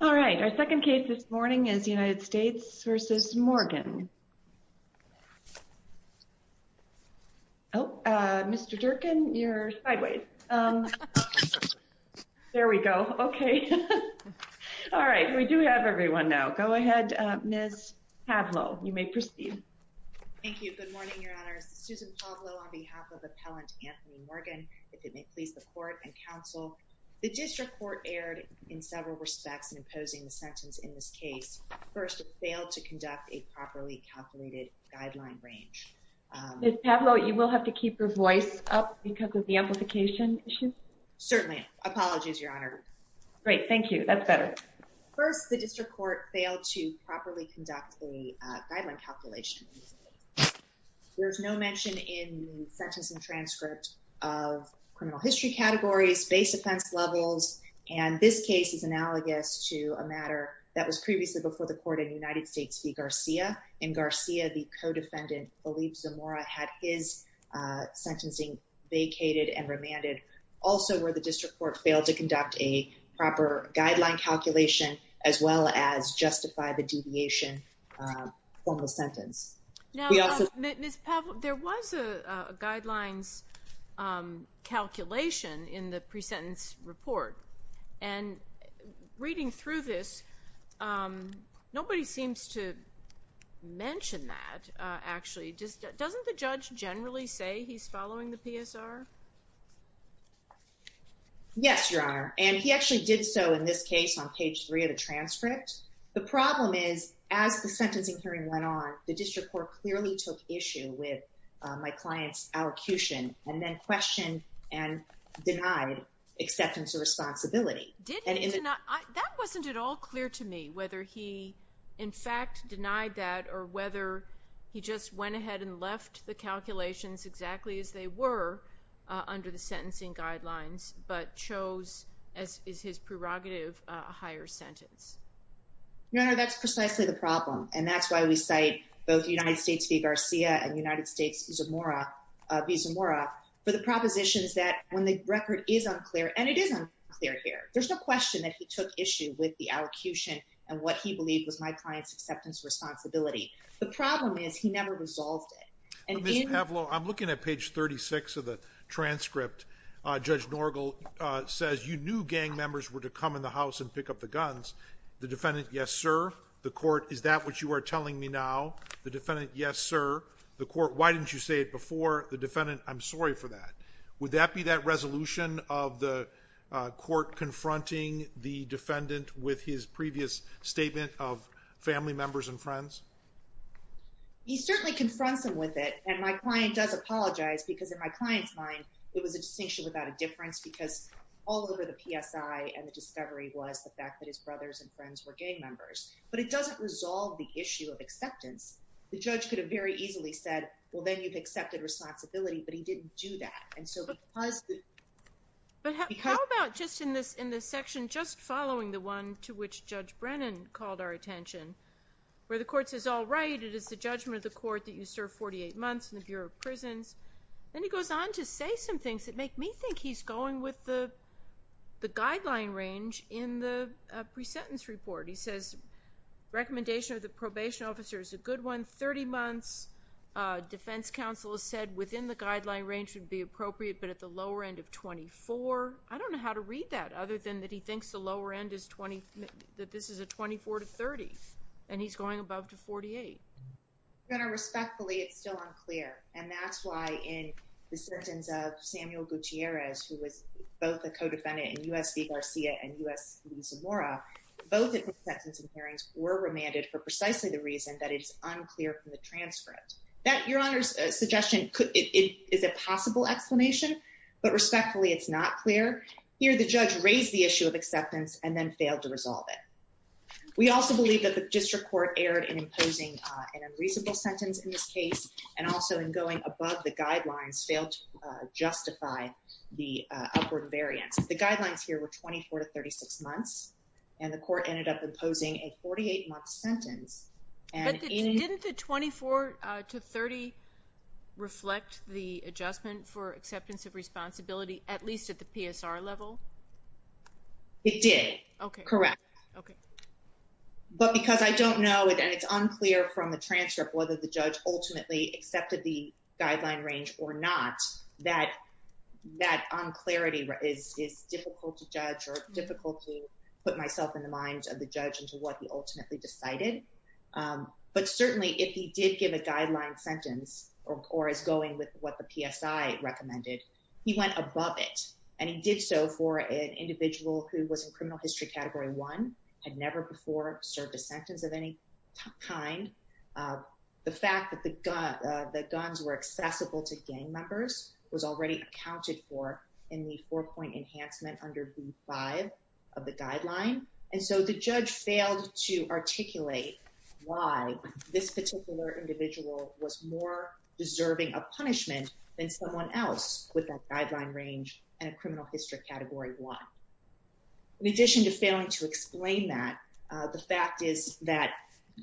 All right. Our second case this morning is United States v. Morgan. Oh, Mr. Durkin, you're sideways. There we go. Okay. All right. We do have everyone now. Go ahead, Ms. Pavlo. You may proceed. Thank you. Good morning, Your Honors. Susan Pavlo on behalf of Appellant Anthony Morgan, if it may please the Court and Counsel. The district court aired in several respects in imposing the sentence in this case. First, it failed to conduct a properly calculated guideline range. Ms. Pavlo, you will have to keep your voice up because of the amplification issue? Certainly. Apologies, Your Honor. Great. Thank you. That's better. First, the district court failed to properly conduct a guideline calculation. There's no mention in the sentence and transcript of criminal history categories, base offense levels, and this case is analogous to a matter that was previously before the Court in United States v. Garcia. In Garcia, the co-defendant, Felipe Zamora, had his sentencing vacated and remanded. Also, the district court failed to conduct a proper guideline calculation as well as justify the deviation from the sentence. Ms. Pavlo, there was a guidelines calculation in the pre-sentence report, and reading through this, nobody seems to mention that, actually. Doesn't the judge generally say he's following the PSR? Yes, Your Honor, and he actually did so in this case on page three of the transcript. The problem is, as the sentencing hearing went on, the district court clearly took issue with my client's allocution and then questioned and denied acceptance of responsibility. That wasn't at all clear to me whether he, in fact, denied that or whether he just went ahead and left the calculations exactly as they were under the sentencing guidelines but chose, as is his prerogative, a higher sentence. Your Honor, that's precisely the problem, and that's why we cite both United States v. Garcia and United States v. Zamora for the propositions that, when the record is unclear, and it is unclear here, there's no question that he took issue with the allocution and what he believed was my client's acceptance of responsibility. The problem is he never resolved it. Ms. Pavlo, I'm looking at page 36 of the transcript. Judge Norgel says you knew gang members were to come in the house and pick up the guns. The defendant, yes, sir. The court, is that what you are telling me now? The defendant, yes, sir. The court, why didn't you say it before? The defendant, I'm sorry for that. Would that be that resolution of the court confronting the defendant with his previous statement of family members and friends? He certainly confronts him with it, and my client does apologize because, in my client's mind, it was a distinction without a difference because all over the PSI and the brothers and friends were gang members. But it doesn't resolve the issue of acceptance. The judge could have very easily said, well, then you've accepted responsibility, but he didn't do that. And so because... But how about just in this section, just following the one to which Judge Brennan called our attention, where the court says, all right, it is the judgment of the court that you serve 48 months in the Bureau of Prisons. Then he goes on to say some things that make me think he's going with the guideline range in the pre-sentence report. He says, recommendation of the probation officer is a good one. 30 months, defense counsel has said within the guideline range would be appropriate, but at the lower end of 24. I don't know how to read that other than that he thinks the lower end is 20, that this is a 24 to 30, and he's going Samuel Gutierrez, who was both a co-defendant in U.S. v. Garcia and U.S. v. Zamora. Both of his sentences and hearings were remanded for precisely the reason that it's unclear from the transcript. That, Your Honor's suggestion, is a possible explanation, but respectfully, it's not clear. Here, the judge raised the issue of acceptance and then failed to resolve it. We also believe that the district court erred in imposing an unreasonable sentence in this case and also in going above the guidelines failed to justify the upward variance. The guidelines here were 24 to 36 months, and the court ended up imposing a 48-month sentence. Didn't the 24 to 30 reflect the adjustment for acceptance of responsibility, at least at the PSR level? It did, correct. But because I don't know, and it's unclear from the transcript, whether the accepted the guideline range or not, that that unclarity is difficult to judge or difficult to put myself in the minds of the judge into what he ultimately decided. But certainly, if he did give a guideline sentence or is going with what the PSI recommended, he went above it, and he did so for an individual who was in criminal history category one, had never before served a sentence of any kind. The fact that the guns were accessible to gang members was already accounted for in the four-point enhancement under V5 of the guideline. And so, the judge failed to articulate why this particular individual was more deserving of punishment than someone else with that guideline range and a criminal history category one. In addition to explain that, the fact is that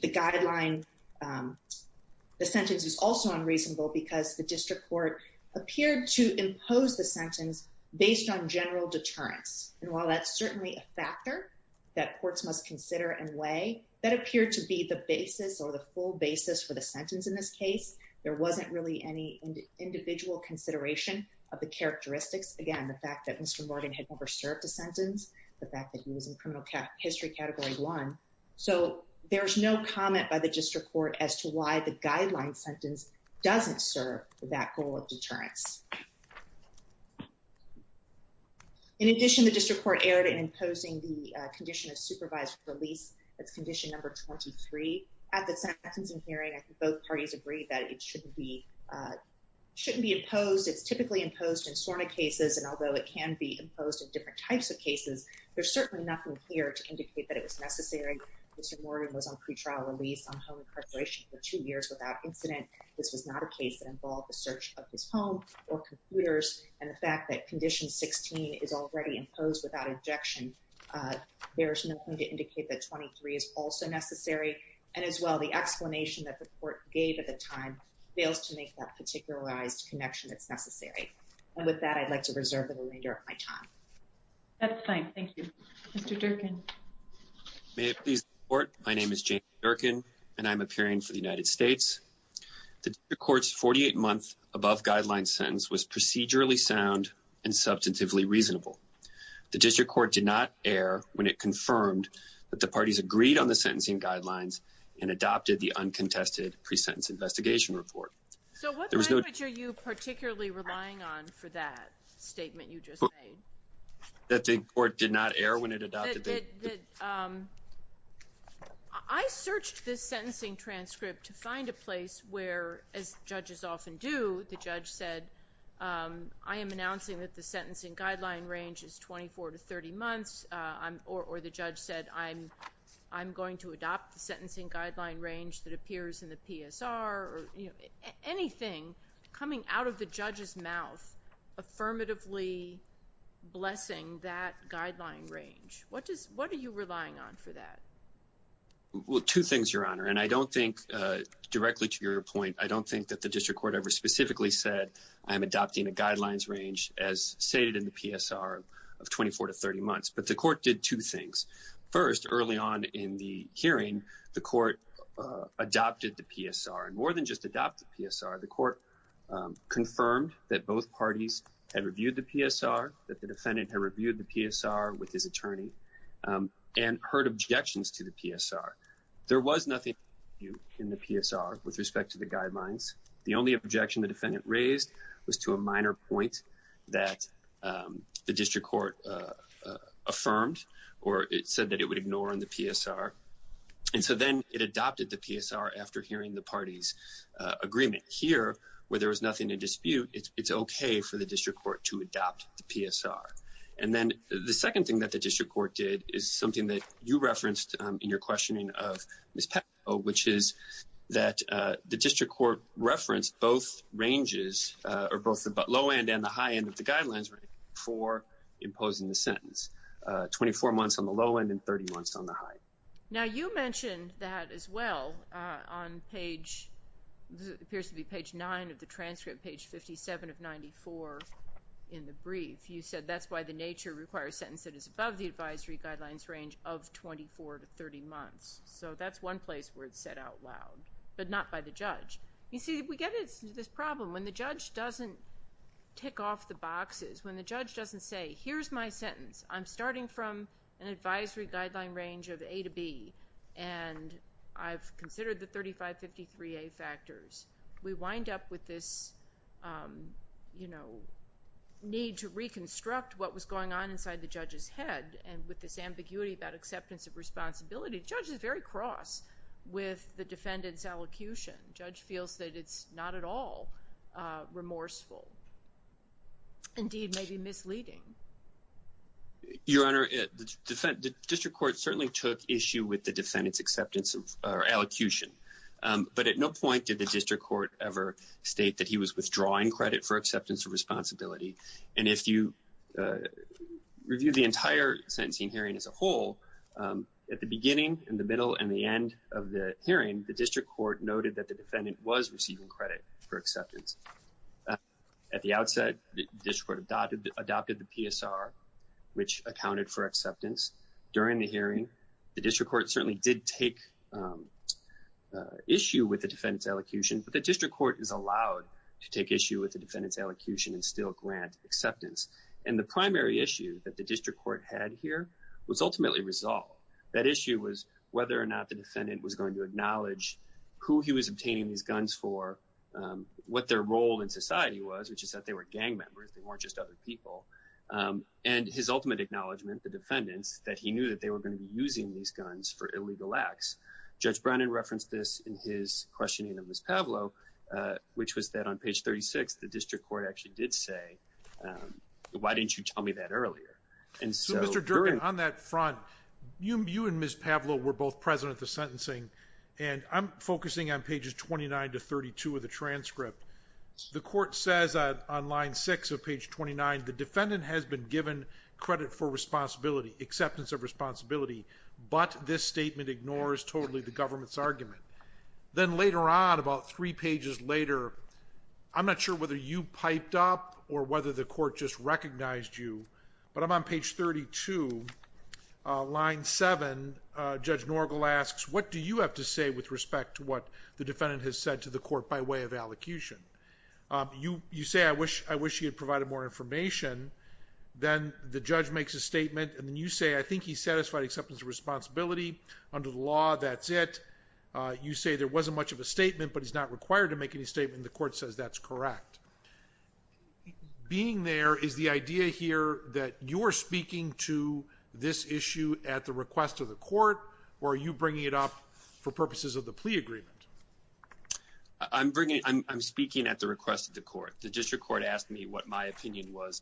the guideline, the sentence was also unreasonable because the district court appeared to impose the sentence based on general deterrence. And while that's certainly a factor that courts must consider and weigh, that appeared to be the basis or the full basis for the sentence in this case. There wasn't really any individual consideration of the characteristics. Again, the fact that Mr. Morgan had never served a sentence, the fact that he was in criminal history category one, so there's no comment by the district court as to why the guideline sentence doesn't serve that goal of deterrence. In addition, the district court erred in imposing the condition of supervised release, that's condition number 23. At the sentencing hearing, I think both parties agreed that it shouldn't be imposed. It's typically imposed in SORNA cases, and although it can be imposed in different types of cases, there's certainly nothing here to indicate that it was necessary. Mr. Morgan was on pretrial release on home incarceration for two years without incident. This was not a case that involved the search of his home or computers, and the fact that condition 16 is already imposed without injection, there's nothing to indicate that 23 is also necessary. And as well, the explanation that the court gave at the time fails to make that particularized connection that's necessary. And with that, I'd like to reserve the remainder of my time. That's fine. Thank you. Mr. Durkin. May it please the court, my name is James Durkin, and I'm appearing for the United States. The court's 48-month above guideline sentence was procedurally sound and substantively reasonable. The district court did not err when it confirmed that the parties agreed on the sentencing guidelines and adopted the uncontested pre-sentence investigation report. So what language are you particularly relying on for that statement you just made? That the court did not err when it adopted it? I searched this sentencing transcript to find a place where, as judges often do, the judge said, I am announcing that the sentencing guideline range is 24 to 30 months, or the judge said, I'm going to adopt the sentencing guideline range that appears in the PSR, anything coming out of the judge's mouth, affirmatively blessing that guideline range. What are you relying on for that? Well, two things, Your Honor. And I don't think, directly to your point, I don't think that the district court ever specifically said, I'm adopting a guidelines range as stated in the PSR of 24 to 30 months. But the court did two things. One, the court did not err when it was confirming the court adopted the PSR. And more than just adopt the PSR, the court confirmed that both parties had reviewed the PSR, that the defendant had reviewed the PSR with his attorney, and heard objections to the PSR. There was nothing in the PSR with respect to the guidelines. The only objection the defendant raised was to a minor point that the district court affirmed, or it said that it would ignore in the PSR. And so then it adopted the PSR after hearing the party's agreement. Here, where there was nothing to dispute, it's okay for the district court to adopt the PSR. And then the second thing that the district court did is something that you referenced in your questioning of Ms. Petito, which is that the district court referenced both ranges, or both the low end and the high end of the guidelines for imposing the sentence, 24 months on the low end and 30 months on the high. Now you mentioned that as well on page, it appears to be page 9 of the transcript, page 57 of 94 in the brief. You said that's why the nature requires a sentence that is above the advisory guidelines range of 24 to 30 months. So that's one place where it's said out loud, but not by the judge. You see, we get into this problem when the judge doesn't tick off the boxes, when the judge doesn't say, here's my sentence. I'm starting from an advisory guideline range of A to B, and I've considered the 3553A factors. We wind up with this need to reconstruct what was going on inside the judge's head. And with this ambiguity about acceptance of responsibility, the judge is very cross with the defendant's allocution. The judge feels that it's not at all remorseful. Indeed, maybe misleading. Your Honor, the district court certainly took issue with the defendant's acceptance of or allocution. But at no point did the district court ever state that he was withdrawing credit for acceptance of responsibility. And if you review the entire sentencing hearing as a whole, at the beginning, in the middle, and the end of the hearing, the district court noted that defendant was receiving credit for acceptance. At the outset, the district court adopted the PSR, which accounted for acceptance. During the hearing, the district court certainly did take issue with the defendant's allocution, but the district court is allowed to take issue with the defendant's allocution and still grant acceptance. And the primary issue that the district court had here was ultimately resolved. That issue was whether or not the defendant was going to acknowledge who he was obtaining these guns for, what their role in society was, which is that they were gang members. They weren't just other people. And his ultimate acknowledgement, the defendant's, that he knew that they were going to be using these guns for illegal acts. Judge Brennan referenced this in his questioning of Ms. Pavlo, which was that on page 36, the district court actually did say, why didn't you tell me that earlier? So Mr. Durbin, on that front, you and Ms. Pavlo were both sentencing. And I'm focusing on pages 29 to 32 of the transcript. The court says that on line six of page 29, the defendant has been given credit for responsibility, acceptance of responsibility, but this statement ignores totally the government's argument. Then later on, about three pages later, I'm not sure whether you piped up or whether the court just recognized you, but I'm on page 32, line seven, Judge Norgel asks, what do you have to say with respect to what the defendant has said to the court by way of allocution? You say, I wish he had provided more information. Then the judge makes a statement. And then you say, I think he's satisfied acceptance of responsibility. Under the law, that's it. You say there wasn't much of a statement, but he's not required to make any statement. The court says that's correct. Being there is the idea here that you're speaking to this issue at the request of the court, or are you bringing it up for purposes of the plea agreement? I'm bringing, I'm speaking at the request of the court. The district court asked me what my opinion was.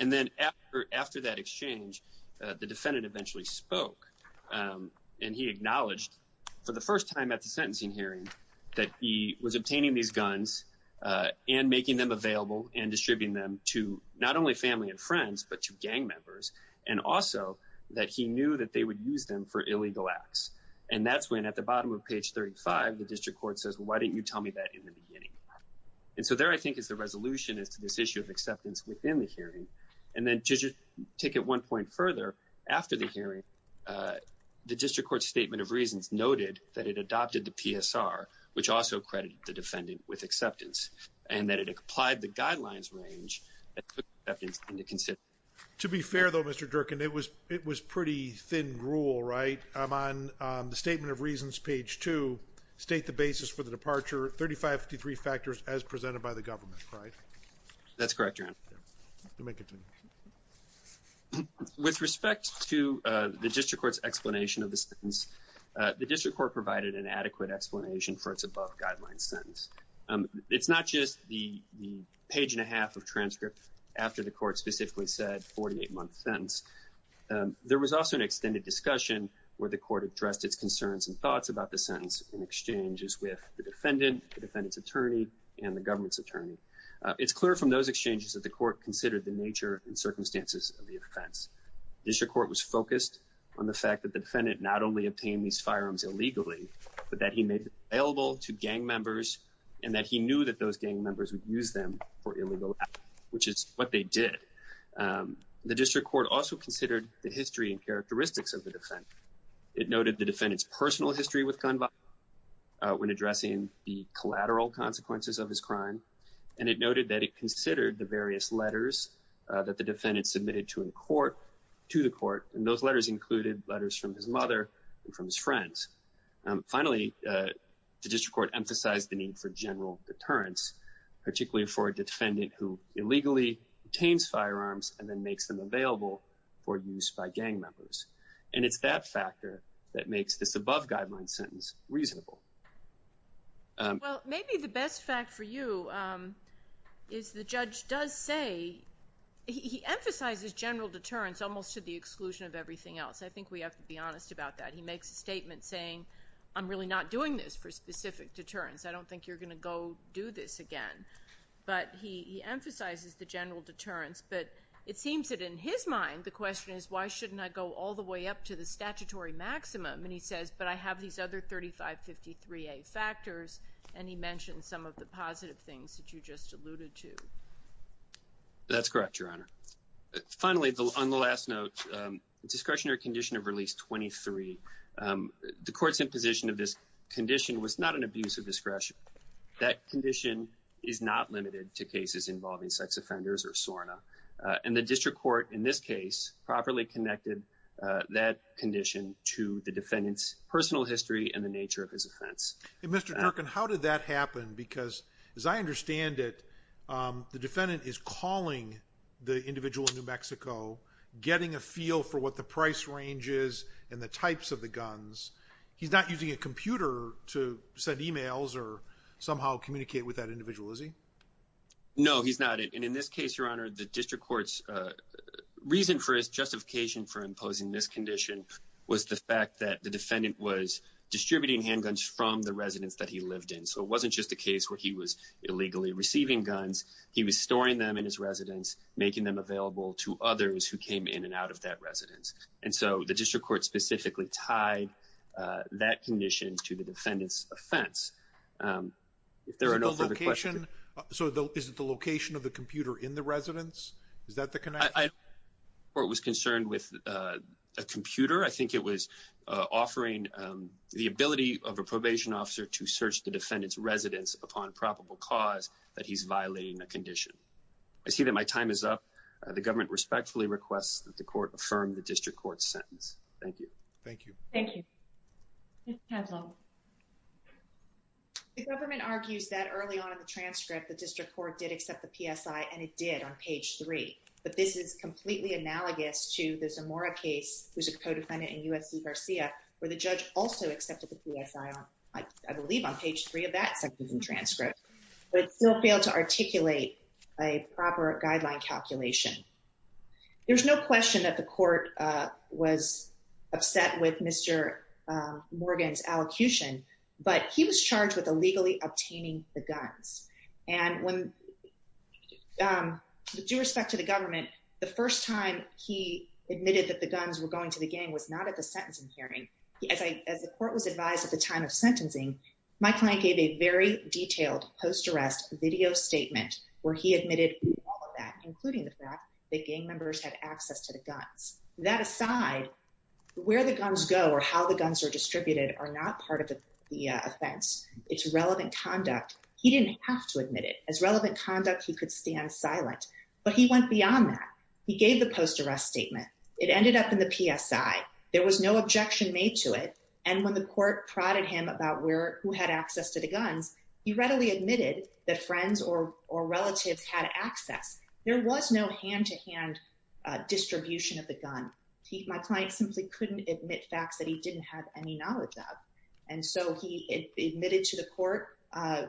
And then after, after that exchange, the defendant eventually spoke and he acknowledged for the first time at the sentencing hearing that he was obtaining these gang members and also that he knew that they would use them for illegal acts. And that's when at the bottom of page 35, the district court says, well, why didn't you tell me that in the beginning? And so there, I think is the resolution as to this issue of acceptance within the hearing. And then to just take it one point further after the hearing, the district court statement of reasons noted that it adopted the PSR, which also credited the defendant with To be fair though, Mr. Durkin, it was, it was pretty thin rule, right? I'm on the statement of reasons, page two, state the basis for the departure, 35 to three factors as presented by the government, right? That's correct, Your Honor. With respect to the district court's explanation of the sentence, the district court provided an adequate explanation for its above guidelines sentence. It's not just the page and a half of transcript after the court specifically said 48 month sentence. There was also an extended discussion where the court addressed its concerns and thoughts about the sentence in exchanges with the defendant, the defendant's attorney and the government's attorney. It's clear from those exchanges that the court considered the nature and circumstances of the offense. District court was focused on the fact that the defendant not only obtained these firearms illegally, but that he made available to gang members and that he knew that those gang members would use them for illegal acts, which is what they did. The district court also considered the history and characteristics of the defense. It noted the defendant's personal history with gun violence when addressing the collateral consequences of his crime. And it noted that it considered the various letters that the defendant submitted to in court, to the court. And those letters included letters from his mother and from his friends. Finally, the district court emphasized the need for general deterrence, particularly for a defendant who illegally obtains firearms and then makes them available for use by gang members. And it's that factor that makes this above guideline sentence reasonable. Well, maybe the best fact for you is the judge does say, he emphasizes general deterrence almost to the exclusion of everything else. I think we have to be honest about that. He makes a statement saying, I'm really not doing this for specific deterrence. I don't think you're going to go do this again. But he emphasizes the general deterrence. But it seems that in his mind, the question is, why shouldn't I go all the way up to the statutory maximum? And he says, but I have these other 3553A factors. And he mentioned some of the positive things that you just alluded to. That's correct, Your Honor. Finally, on the last note, discretionary condition of release 23. The court's imposition of this condition was not an abuse of discretion. That condition is not limited to cases involving sex offenders or SORNA. And the district court, in this case, properly connected that condition to the defendant's personal history and the nature of his offense. Mr. Durkin, how did that happen? Because as I understand it, the defendant is calling the individual in New Mexico, getting a feel for what the price range and the types of the guns. He's not using a computer to send emails or somehow communicate with that individual, is he? No, he's not. And in this case, Your Honor, the district court's reason for his justification for imposing this condition was the fact that the defendant was distributing handguns from the residence that he lived in. So it wasn't just a case where he was illegally receiving guns. He was storing them in his residence, making them available to others who came in and out of that residence. And so the district court specifically tied that condition to the defendant's offense. If there are no further questions. So is it the location of the computer in the residence? Is that the connection? The court was concerned with a computer. I think it was offering the ability of a probation officer to search the defendant's residence upon probable cause that he's violating the condition. I see that my time is up. The government respectfully requests that the court affirm the district court's sentence. Thank you. Thank you. Thank you. Ms. Haslund. The government argues that early on in the transcript, the district court did accept the PSI and it did on page three. But this is completely analogous to the Zamora case, who's a co-defendant in USC Garcia, where the judge also accepted the PSI on, I believe, on page three of that sentence and transcript, but still failed to articulate a prosecution. There's no question that the court was upset with Mr. Morgan's allocution, but he was charged with illegally obtaining the guns. And when, with due respect to the government, the first time he admitted that the guns were going to the gang was not at the sentencing hearing. As I, as the court was advised at the time of sentencing, my client gave a very that gang members had access to the guns. That aside, where the guns go or how the guns are distributed are not part of the offense. It's relevant conduct. He didn't have to admit it as relevant conduct. He could stand silent, but he went beyond that. He gave the post-arrest statement. It ended up in the PSI. There was no objection made to it. And when the court prodded him about where, who had access to the guns, he readily admitted that friends or, or relatives had access. There was no hand to hand distribution of the gun. He, my client simply couldn't admit facts that he didn't have any knowledge of. And so he admitted to the court, uh,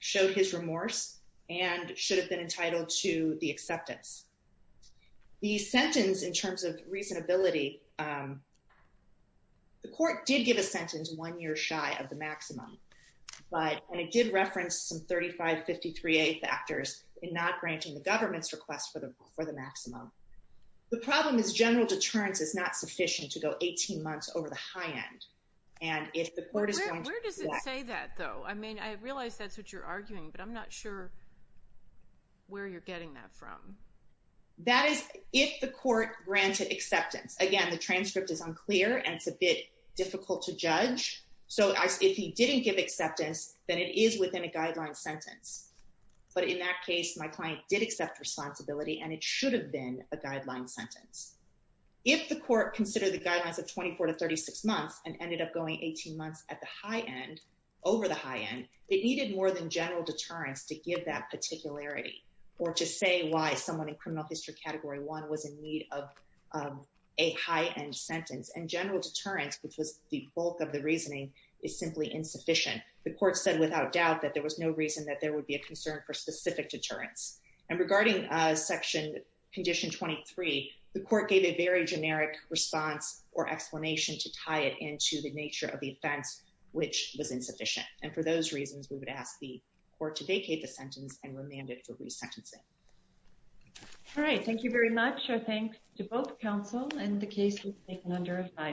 showed his remorse and should have been entitled to the acceptance. The sentence in terms of reasonability, um, the court did give a sentence one year shy of the maximum, but, and it did reference some 3553a factors in not granting the government's request for the, for the maximum. The problem is general deterrence is not sufficient to go 18 months over the high end. And if the court is going to say that though, I mean, I realized that's what you're arguing, but I'm not sure where you're getting that from. That is if the court granted acceptance, again, the transcript is unclear and it's a bit difficult to judge. So if he didn't give acceptance, then it is within a guideline sentence. But in that case, my client did accept responsibility and it should have been a guideline sentence. If the court considered the guidelines of 24 to 36 months and ended up going 18 months at the high end over the high end, they needed more than general deterrence to give that particularity or to say why someone in criminal history category one was in need of a high end sentence and general deterrence, which was the bulk of the reasoning is simply insufficient. The court said without doubt that there was no reason that there would be a concern for specific deterrence. And regarding section condition 23, the court gave a very generic response or explanation to tie it into the nature of the offense, which was insufficient. And for those reasons, we would ask the court to vacate the sentence and remand it for resentencing. All right. Thank you very much. Our thanks to counsel and the case was taken under advice.